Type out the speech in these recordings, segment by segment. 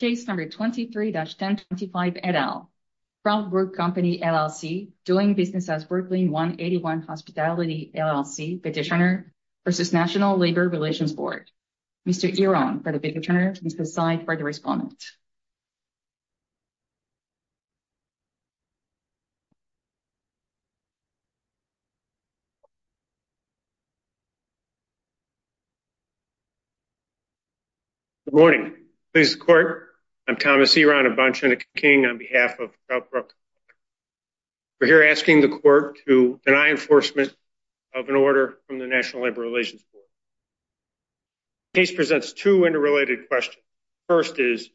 Case number 23-1025, et al. Troutbrook Company, LLC, doing business as Brooklyn 181 Hospitality, LLC, petitioner versus National Labor Relations Board. Mr. Eron, for the petitioner, and Ms. Poseid, for the respondent. Good morning, please the court. I'm Thomas Eron, a bunch and a king on behalf of Troutbrook. We're here asking the court to deny enforcement of an order from the National Labor Relations Board. Case presents two interrelated questions. First is,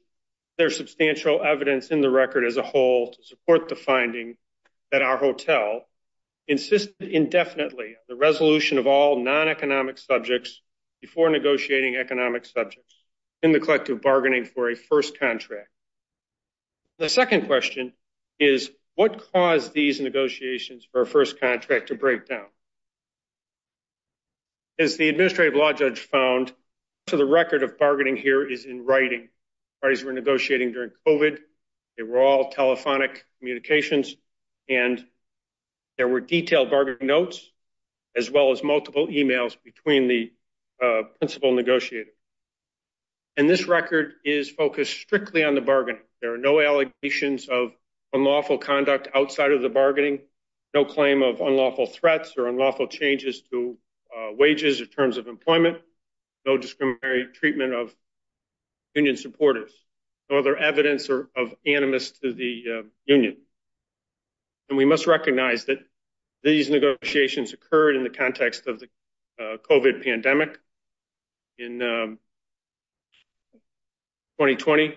there's substantial evidence in the record as a whole to support the finding that our hotel insisted indefinitely the resolution of all non-economic subjects before negotiating economic subjects in the collective bargaining for a first contract. The second question is, what caused these negotiations for a first contract to break down? As the administrative law judge found, so the record of bargaining here is in writing. Parties were negotiating during COVID. They were all telephonic communications, and there were detailed bargaining notes, as well as multiple emails between the principal negotiator. And this record is focused strictly on the bargaining. There are no allegations of unlawful conduct outside of the bargaining, no claim of unlawful threats or unlawful changes to wages or terms of employment, no discriminatory treatment of union supporters, no other evidence of animus to the union. And we must recognize that these negotiations occurred in the context of the COVID pandemic in 2020.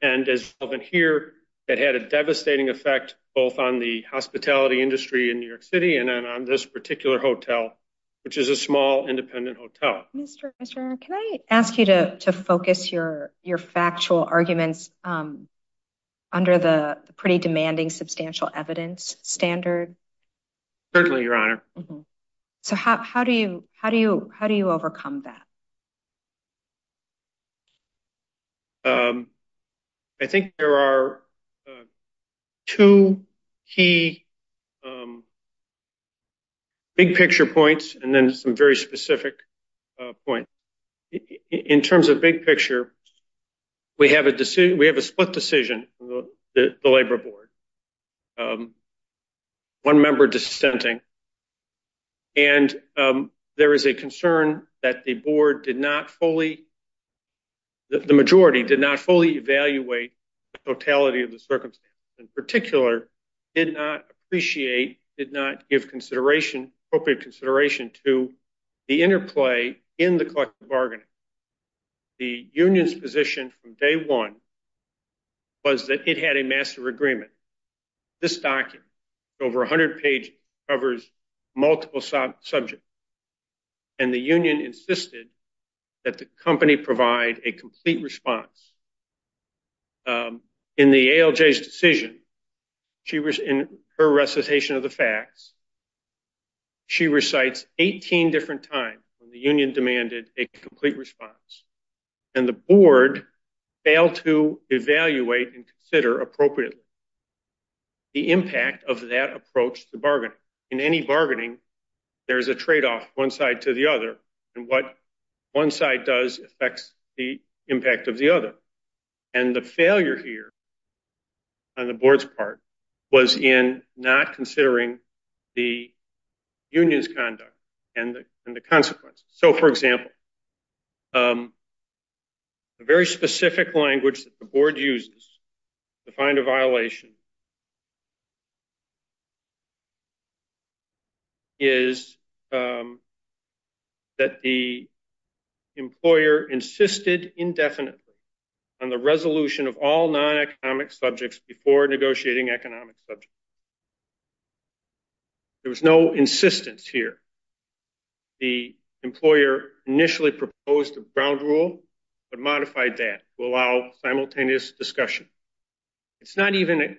And as you can hear, it had a devastating effect both on the hospitality industry in New York City and on this particular hotel, which is a small, independent hotel. Mr. Fischer, can I ask you to focus your factual arguments under the pretty demanding substantial evidence standard? Certainly, Your Honor. So how do you overcome that? I think there are two key big-picture points and then some very specific points. In terms of big picture, we have a split decision, the labor board, one member dissenting. And there is a concern that the board did not fully, the majority did not fully evaluate the totality of the circumstances. In particular, did not appreciate, did not give appropriate consideration to the interplay in the collective bargaining. The union's position from day one was that it had a master agreement. This document, over 100 pages, covers multiple subjects. And the union insisted that the company provide a complete response. In the ALJ's decision, in her recitation of the facts, she recites 18 different times when the union demanded a complete response. And the board failed to evaluate and consider appropriately the impact of that approach to bargaining. In any bargaining, there is a trade-off, one side to the other, and what one side does affects the impact of the other. And the failure here on the board's part was in not considering the union's conduct and the consequences. So, for example, a very specific language that the board uses to find a violation is that the employer insisted indefinitely on the resolution of all non-economic subjects before negotiating economic subjects. There was no insistence here. The employer initially proposed a ground rule but modified that to allow simultaneous discussion. It's not even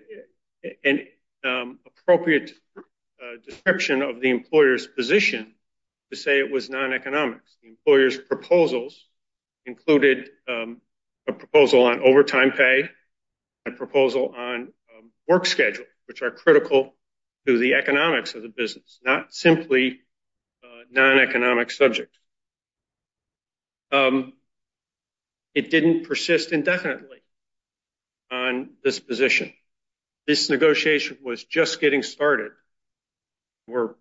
an appropriate description of the employer's position to say it was non-economics. The employer's proposals included a proposal on overtime pay, a proposal on work schedules, which are critical to the economics of the business, not simply non-economic subject. It didn't persist indefinitely on this position. This negotiation was just getting started. More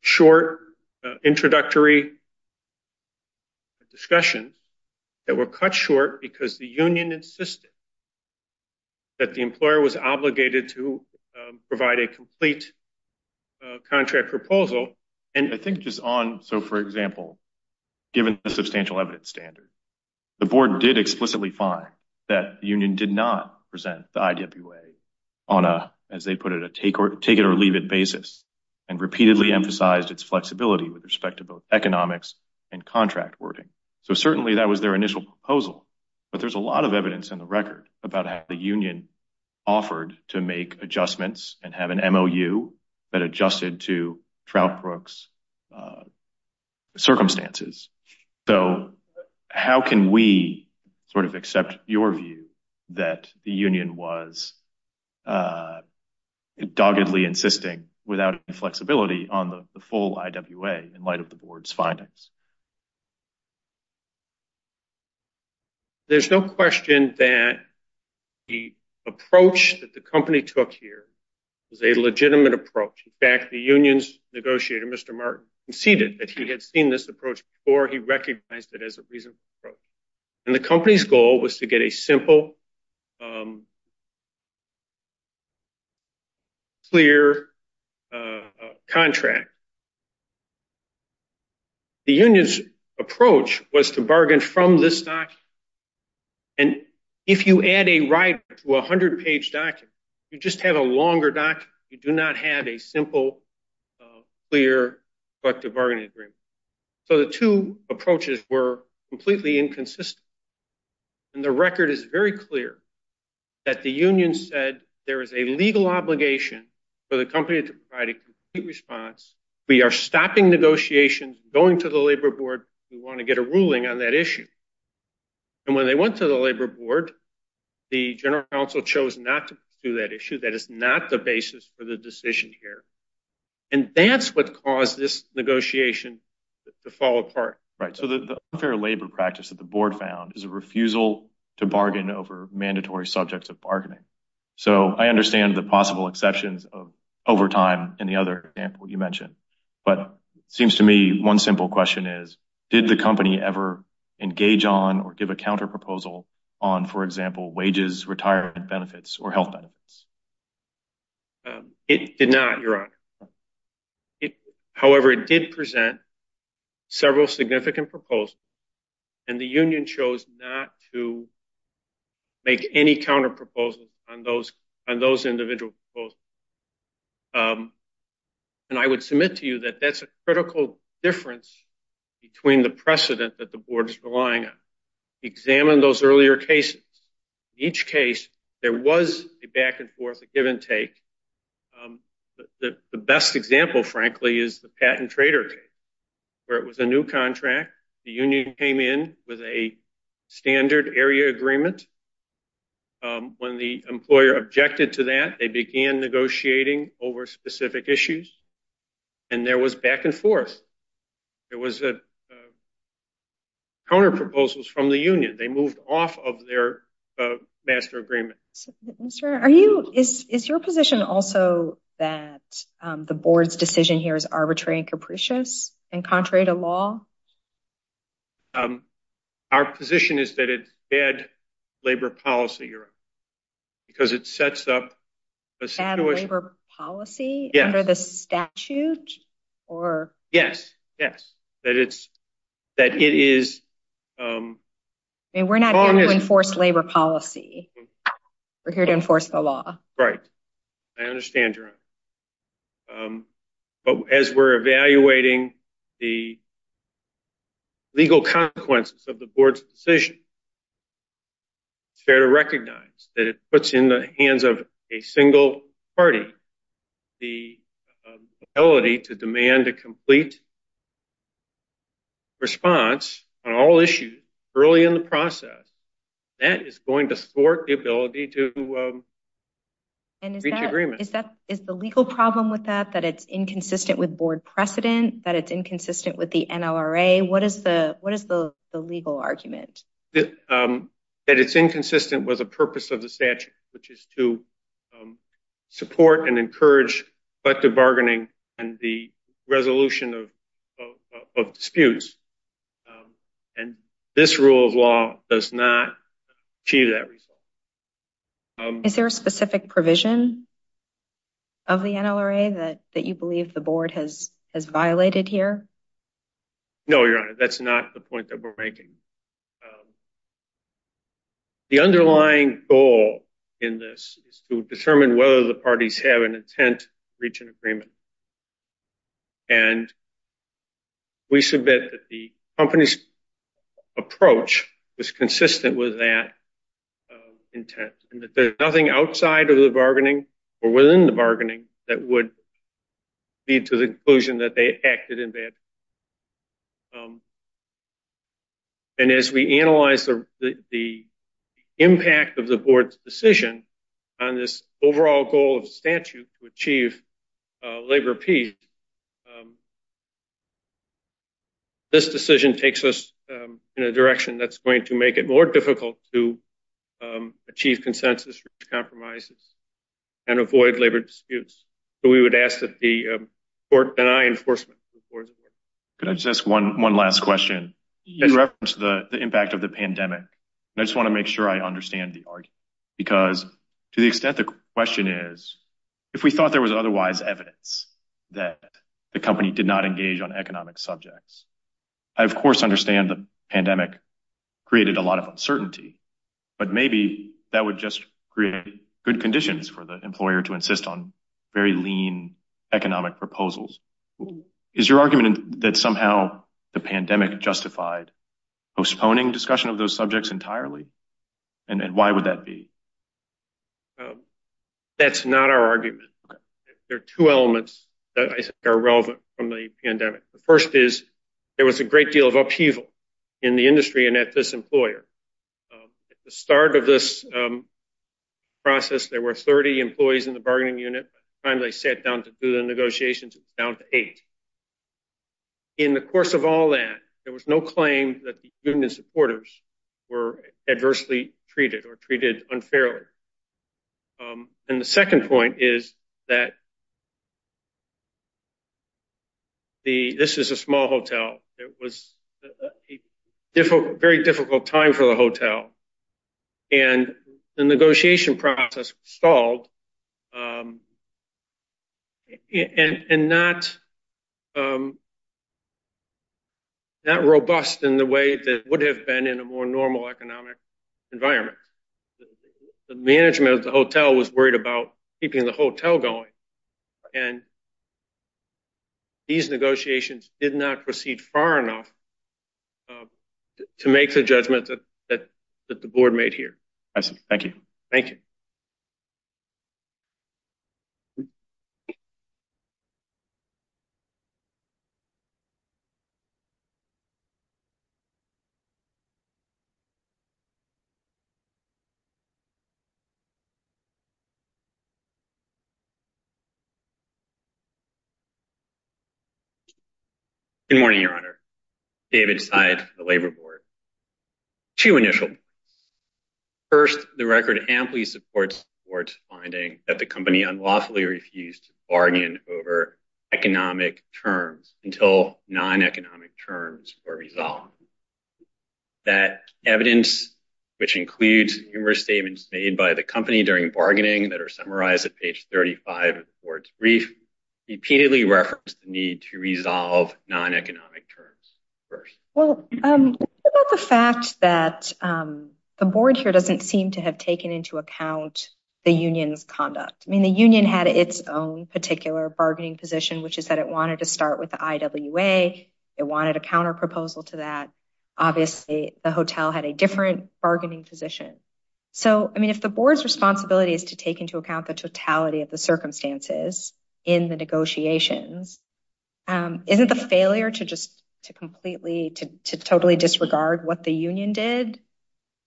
short, introductory discussion that were cut short because the union insisted that the employer was obligated to provide a complete contract proposal. And I think just on, so, for example, given the substantial evidence standard, the board did explicitly find that the union did not present the IWA on a, as they put it, a take-it-or-leave-it basis and repeatedly emphasized its flexibility with respect to both economics and contract wording. So, certainly, that was their initial proposal, but there's a lot of evidence in the record about how the union offered to make adjustments and have an MOU that adjusted to Troutbrook's circumstances. So, how can we sort of accept your view that the union was doggedly insisting without inflexibility on the full IWA in light of the board's findings? There's no question that the approach that the company took here was a legitimate approach. In fact, the union's negotiator, Mr. Martin, conceded that he had seen this approach before he recognized it as a reasonable approach. And the company's goal was to get a simple, clear contract. The union, in fact, the union's approach was to bargain from this document. And if you add a writer to a 100-page document, you just have a longer document. You do not have a simple, clear collective bargaining agreement. So, the two approaches were completely inconsistent. And the record is very clear that the union said there is a legal obligation for the company to provide a complete response. We are stopping negotiations, going to the labor board. We want to get a ruling on that issue. And when they went to the labor board, the general counsel chose not to pursue that issue. That is not the basis for the decision here. And that's what caused this negotiation to fall apart. Right, so the unfair labor practice that the board found is a refusal to bargain over mandatory subjects of bargaining. So, I understand the possible exceptions of overtime in the other example you mentioned. But it seems to me one simple question is, did the company ever engage on or give a counterproposal on, for example, wages, retirement benefits, or health benefits? It did not, Your Honor. However, it did present several significant proposals, and the union chose not to make any counterproposals on those individual proposals. And I would submit to you that that's a critical difference between the precedent that the board is relying on. Examine those earlier cases. Each case, there was a back and forth, a give and take. The best example, frankly, is the patent trader case, where it was a new contract, the union came in with a standard area agreement. When the employer objected to that, they began negotiating over specific issues, and there was back and forth. There was a counterproposals from the union. They moved off of their master agreement. Mr. Ayer, is your position also that the board's decision here is arbitrary and capricious and contrary to law? Our position is that it's bad labor policy, Your Honor, because it sets up a situation- Bad labor policy? Yes. Under the statute? Or- Yes, yes. That it is- I mean, we're not here to enforce labor policy. We're here to enforce the law. Right, I understand, Your Honor. But as we're evaluating the legal consequences of the board's decision, it's fair to recognize that it puts in the hands of a single party the ability to demand a complete response on all issues early in the process. That is going to thwart the ability to reach agreement. Is the legal problem with that, that it's inconsistent with board precedent, that it's inconsistent with the NLRA? What is the legal argument? That it's inconsistent with the purpose of the statute, which is to support and encourage collective bargaining and the resolution of disputes. And this rule of law does not achieve that result. Is there a specific provision of the NLRA that you believe the board has violated here? No, Your Honor, that's not the point that we're making. The underlying goal in this is to determine whether the parties have an intent to reach an agreement. And we submit that the company's approach was consistent with that intent, and that there's nothing outside of the bargaining or within the bargaining that would lead to the conclusion that they acted in bad. And as we analyze the impact of the board's decision on this overall goal of statute to achieve labor peace, this decision takes us in a direction that's going to make it more difficult to achieve consensus, reach compromises, and avoid labor disputes. So we would ask that the court deny enforcement. Could I just ask one last question? In reference to the impact of the pandemic, I just want to make sure I understand the argument, because to the extent the question is, if we thought there was otherwise evidence that the company did not engage on economic subjects, I of course understand the pandemic created a lot of uncertainty, but maybe that would just create good conditions for the employer to insist on very lean economic proposals. Is your argument that somehow the pandemic justified postponing discussion of those subjects entirely? And why would that be? That's not our argument. There are two elements that I think are relevant from the pandemic. The first is there was a great deal of upheaval in the industry and at this employer. At the start of this process, there were 30 employees in the bargaining unit. By the time they sat down to do the negotiations, it was down to eight. In the course of all that, there was no claim that the union supporters were adversely treated or treated unfairly. And the second point is that, It was a very difficult time for the hotel. And the negotiation process stalled and not robust in the way that would have been in a more normal economic environment. The management of the hotel was worried about keeping the hotel going. And these negotiations did not proceed far enough to make the judgment that the board made here. I see, thank you. Thank you. Good morning, Your Honor. David Seid from the Labor Board. Two initial points. First, the record amply supports the board's finding that the company unlawfully refused to bargain over economic terms until non-economic terms were resolved. That evidence, which includes numerous statements made by the company during bargaining that are summarized at page 35 of the board's brief, repeatedly referenced the need to resolve non-economic terms. Well, what about the fact that the board here doesn't seem to have taken into account the union's conduct? I mean, the union had its own particular bargaining position which is that it wanted to start with the IWA. It wanted a counter proposal to that. Obviously, the hotel had a different bargaining position. So, I mean, if the board's responsibility is to take into account the totality of the circumstances in the negotiations, isn't the failure to just to completely, to totally disregard what the union did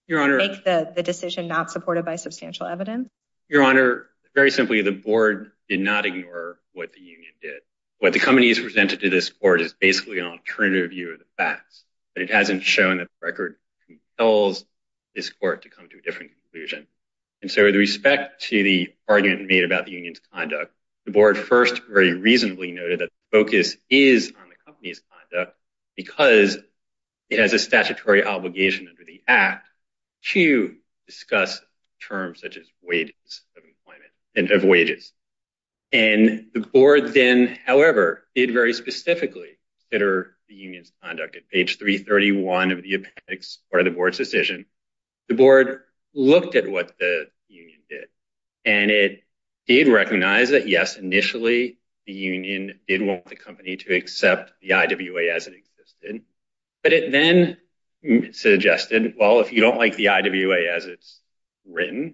and make the decision not supported by substantial evidence? Your Honor, very simply, the board did not ignore what the union did. What the company has presented to this board is basically an alternative view of the facts, but it hasn't shown that the record compels this court to come to a different conclusion. And so, with respect to the argument made about the union's conduct, the board first very reasonably noted that the focus is on the company's conduct because it has a statutory obligation under the act to discuss terms such as wages of employment and of wages. And the board then, however, did very specifically consider the union's conduct. At page 331 of the appendix, part of the board's decision, the board looked at what the union did and it did recognize that, yes, initially, the union did want the company to accept the IWA as it existed, but it then suggested, well, if you don't like the IWA as it's written,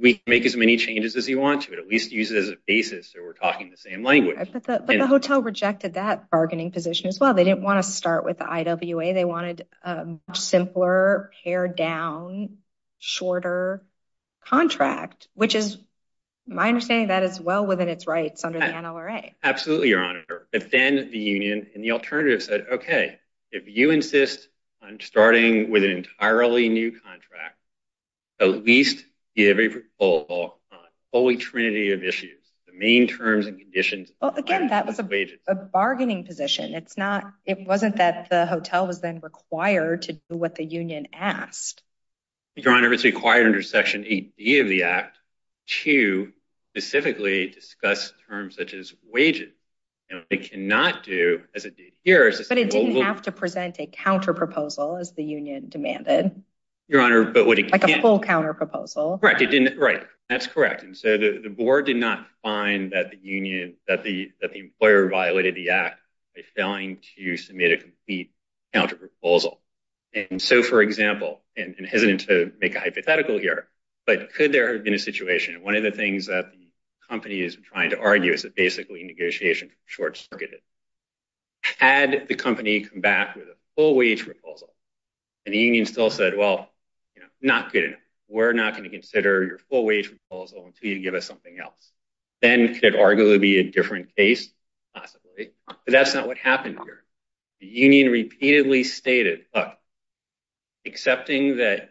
we can make as many changes as you want to at least use it as a basis that we're talking the same language. But the hotel rejected that bargaining position as well. They didn't want to start with the IWA. They wanted a simpler, pared down, shorter contract, which is my understanding of that as well within its rights under the NLRA. Absolutely, Your Honor. But then the union and the alternative said, okay, if you insist on starting with an entirely new contract at least give a full trinity of issues, the main terms and conditions- Well, again, that was a bargaining position. It's not, it wasn't that the hotel was then required to do what the union asked. Your Honor, it's required under section 8B of the act to specifically discuss terms such as wages. It cannot do, as it did here- But it didn't have to present a counter proposal as the union demanded. Your Honor, but what it- Like a full counter proposal. Correct, it didn't, right. That's correct. And so the board did not find that the union, that the employer violated the act by failing to submit a complete counter proposal. And so, for example, and hesitant to make a hypothetical here, but could there have been a situation? And one of the things that the company is trying to argue is that basically negotiation short-circuited. Had the company come back with a full wage proposal and the union still said, well, you know, not good enough. We're not going to consider your full wage proposal until you give us something else. Then could it arguably be a different case? Possibly, but that's not what happened here. The union repeatedly stated, look, accepting that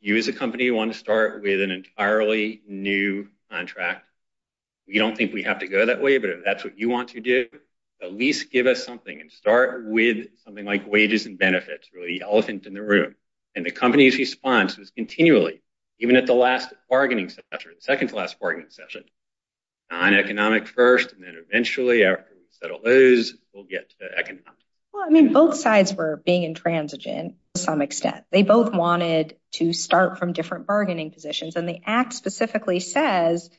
you as a company want to start with an entirely new contract, we don't think we have to go that way, but if that's what you want to do, at least give us something and start with something like wages and benefits, really elephant in the room. And the company's response was continually, even at the last bargaining session, the second to last bargaining session, non-economic first, and then eventually after we settle those, we'll get to economic. Well, I mean, both sides were being intransigent to some extent. They both wanted to start from different bargaining positions. And the act specifically says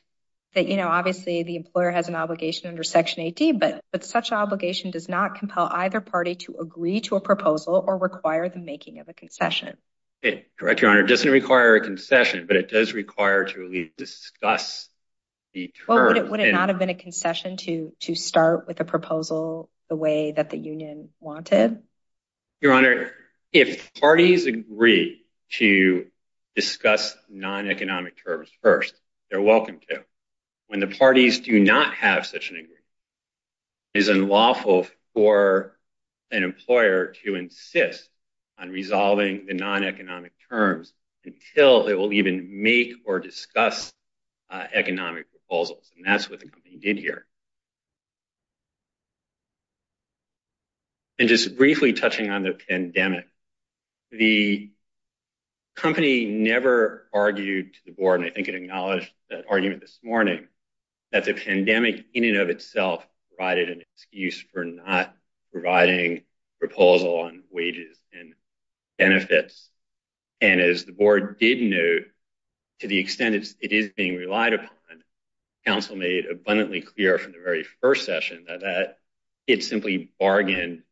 that, you know, obviously the employer has an obligation under Section 80, but such obligation does not compel either party to agree to a proposal or require the making of a concession. Correct, Your Honor. It doesn't require a concession, but it does require to at least discuss the terms. Would it not have been a concession to start with a proposal the way that the union wanted? Your Honor, if parties agree to discuss non-economic terms first, they're welcome to. When the parties do not have such an agreement, it is unlawful for an employer to insist on resolving the non-economic terms until it will even make or discuss economic proposals. And that's what the company did here. And just briefly touching on the pandemic, the company never argued to the board, and I think it acknowledged that argument this morning, that the pandemic in and of itself provided an excuse for not providing proposal on wages and benefits. And as the board did note, to the extent it is being relied upon, counsel made abundantly clear from the very first session that it simply bargained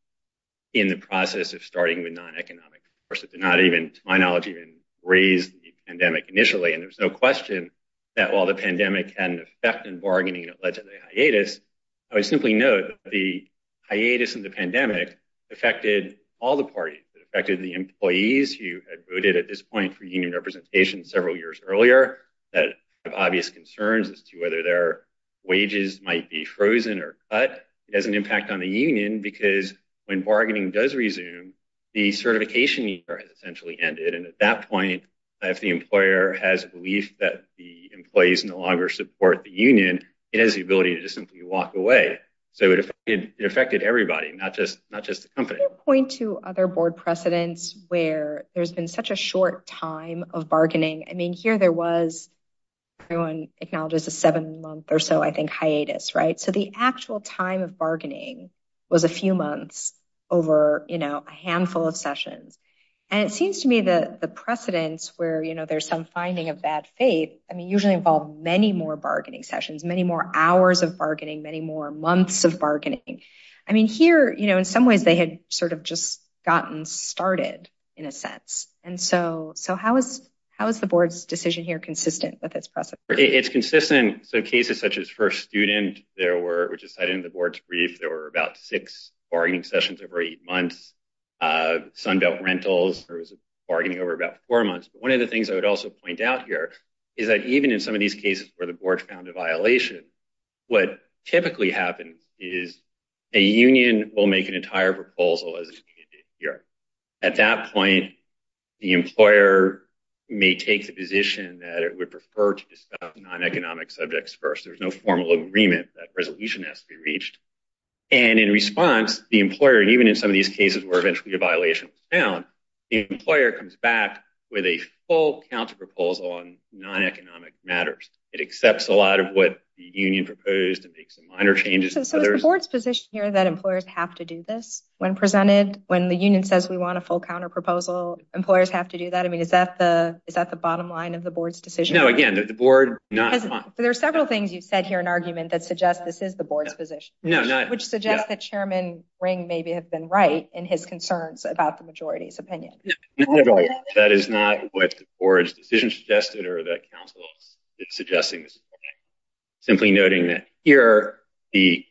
in the process of starting with non-economic. Of course, it did not even, to my knowledge, even raise the pandemic initially. And there was no question that while the pandemic had an effect in bargaining that led to the hiatus, I would simply note that the hiatus in the pandemic affected all the parties. It affected the employees who had voted at this point for union representation several years earlier that have obvious concerns as to whether their wages might be frozen or cut. It has an impact on the union because when bargaining does resume, the certification year has essentially ended. And at that point, if the employer has a belief that the employees no longer support the union, it has the ability to just simply walk away. So it affected everybody, not just the company. Can you point to other board precedents where there's been such a short time of bargaining? I mean, here there was, everyone acknowledges a seven month or so, I think, hiatus, right? So the actual time of bargaining was a few months over a handful of sessions. And it seems to me that the precedents where there's some finding of bad faith, I mean, usually involve many more bargaining sessions, many more hours of bargaining, many more months of bargaining. I mean, here, in some ways, they had sort of just gotten started in a sense. And so how is the board's decision here consistent with its precedent? It's consistent. So cases such as first student, there were, which is cited in the board's brief, there were about six bargaining sessions over eight months. Sunbelt rentals, there was bargaining over about four months. But one of the things I would also point out here is that even in some of these cases where the board found a violation, what typically happens is a union will make an entire proposal as a community here. At that point, the employer may take the position that it would prefer to discuss non-economic subjects first. There's no formal agreement that resolution has to be reached. And in response, the employer, even in some of these cases where eventually a violation was found, the employer comes back with a full counter-proposal on non-economic matters. It accepts a lot of what the union proposed and makes some minor changes. So is the board's position here that employers have to do this? When presented, when the union says we want a full counter-proposal, employers have to do that? I mean, is that the bottom line of the board's decision? No, again, the board not- There are several things you've said here in argument that suggest this is the board's position, which suggests that Chairman Ring maybe have been right in his concerns about the majority's opinion. That is not what the board's decision suggested or that council is suggesting. Simply noting that here, the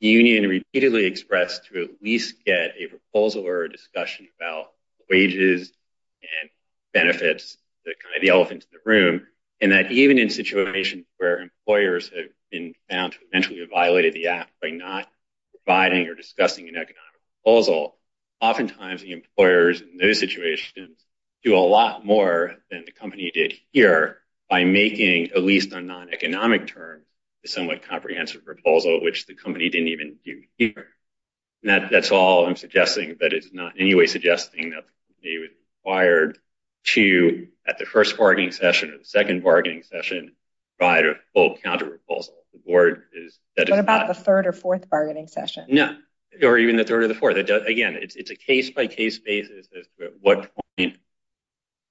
union repeatedly expressed to at least get a proposal or a discussion about wages and benefits, the elephant in the room, and that even in situations where employers have been found to eventually have violated the act by not providing or discussing an economic proposal, oftentimes the employers in those situations do a lot more than the company did here by making, at least on non-economic terms, a somewhat comprehensive proposal, which the company didn't even do here. That's all I'm suggesting, but it's not in any way suggesting that the company was required to, at the first bargaining session or the second bargaining session, provide a full counter-proposal. The board is- What about the third or fourth bargaining session? No, or even the third or the fourth. Again, it's a case-by-case basis as to at what point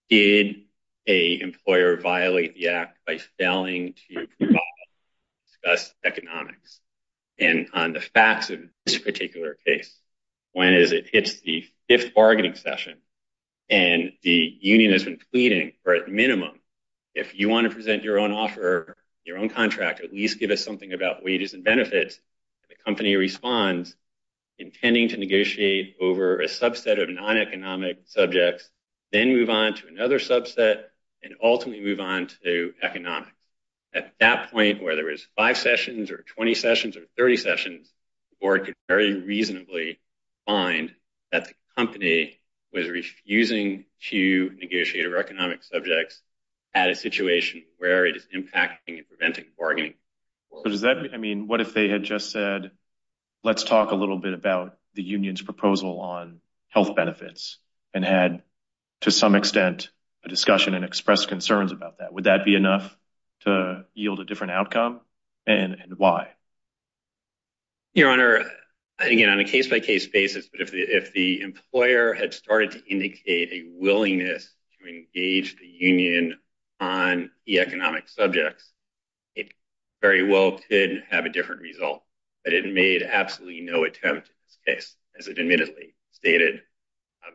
did a employer violate the act by failing to provide or discuss economics. And on the facts of this particular case, when it hits the fifth bargaining session and the union has been pleading for, at minimum, if you want to present your own offer, your own contract, at least give us something about wages and benefits, the company responds, intending to negotiate over a subset of non-economic subjects, then move on to another subset, and ultimately move on to economics. At that point, where there is five sessions or 20 sessions or 30 sessions, the board could very reasonably find that the company was refusing to negotiate over economic subjects at a situation where it is impacting and preventing bargaining. So does that mean- I mean, what if they had just said, let's talk a little bit about the union's proposal on health benefits, and had, to some extent, a discussion and expressed concerns about that? Would that be enough to yield a different outcome? And why? Your Honor, again, on a case-by-case basis, but if the employer had started to indicate a willingness to engage the union on e-economic subjects, it very well could have a different result, but it made absolutely no attempt in this case, as it admittedly stated,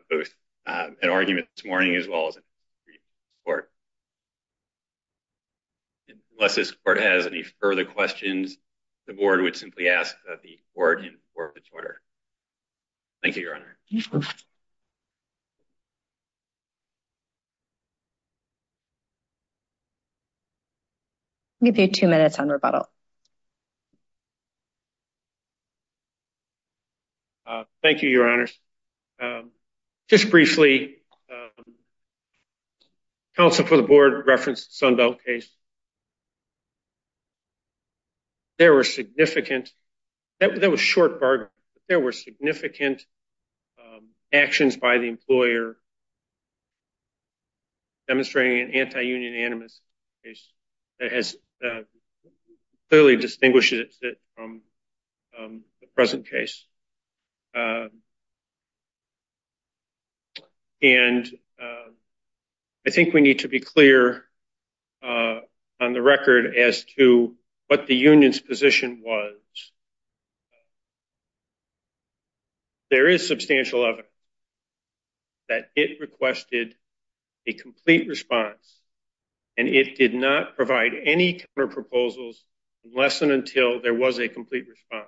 both in argument this morning, as well as in previous court. Unless this court has any further questions, the board would simply ask that the court inform its order. Thank you, Your Honor. I'll give you two minutes on rebuttal. Thank you, Your Honors. Just briefly, counsel for the board referenced Sundell case. There were significant, that was short bargaining, there were significant actions by the employer demonstrating an anti-union animus case that has clearly distinguished it from the present case. And I think we need to be clear on the record as to what the union's position was. There is substantial evidence that it requested a complete response, and it did not provide any counter-proposals unless and until there was a complete response.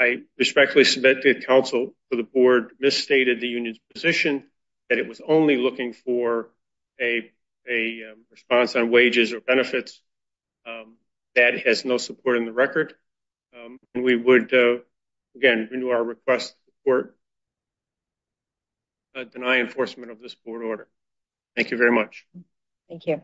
I respectfully submit that counsel for the board misstated the union's position that it was only looking for a response on wages or benefits that has no support in the record. And we would, again, renew our request to deny enforcement of this board order. Thank you very much. Thank you.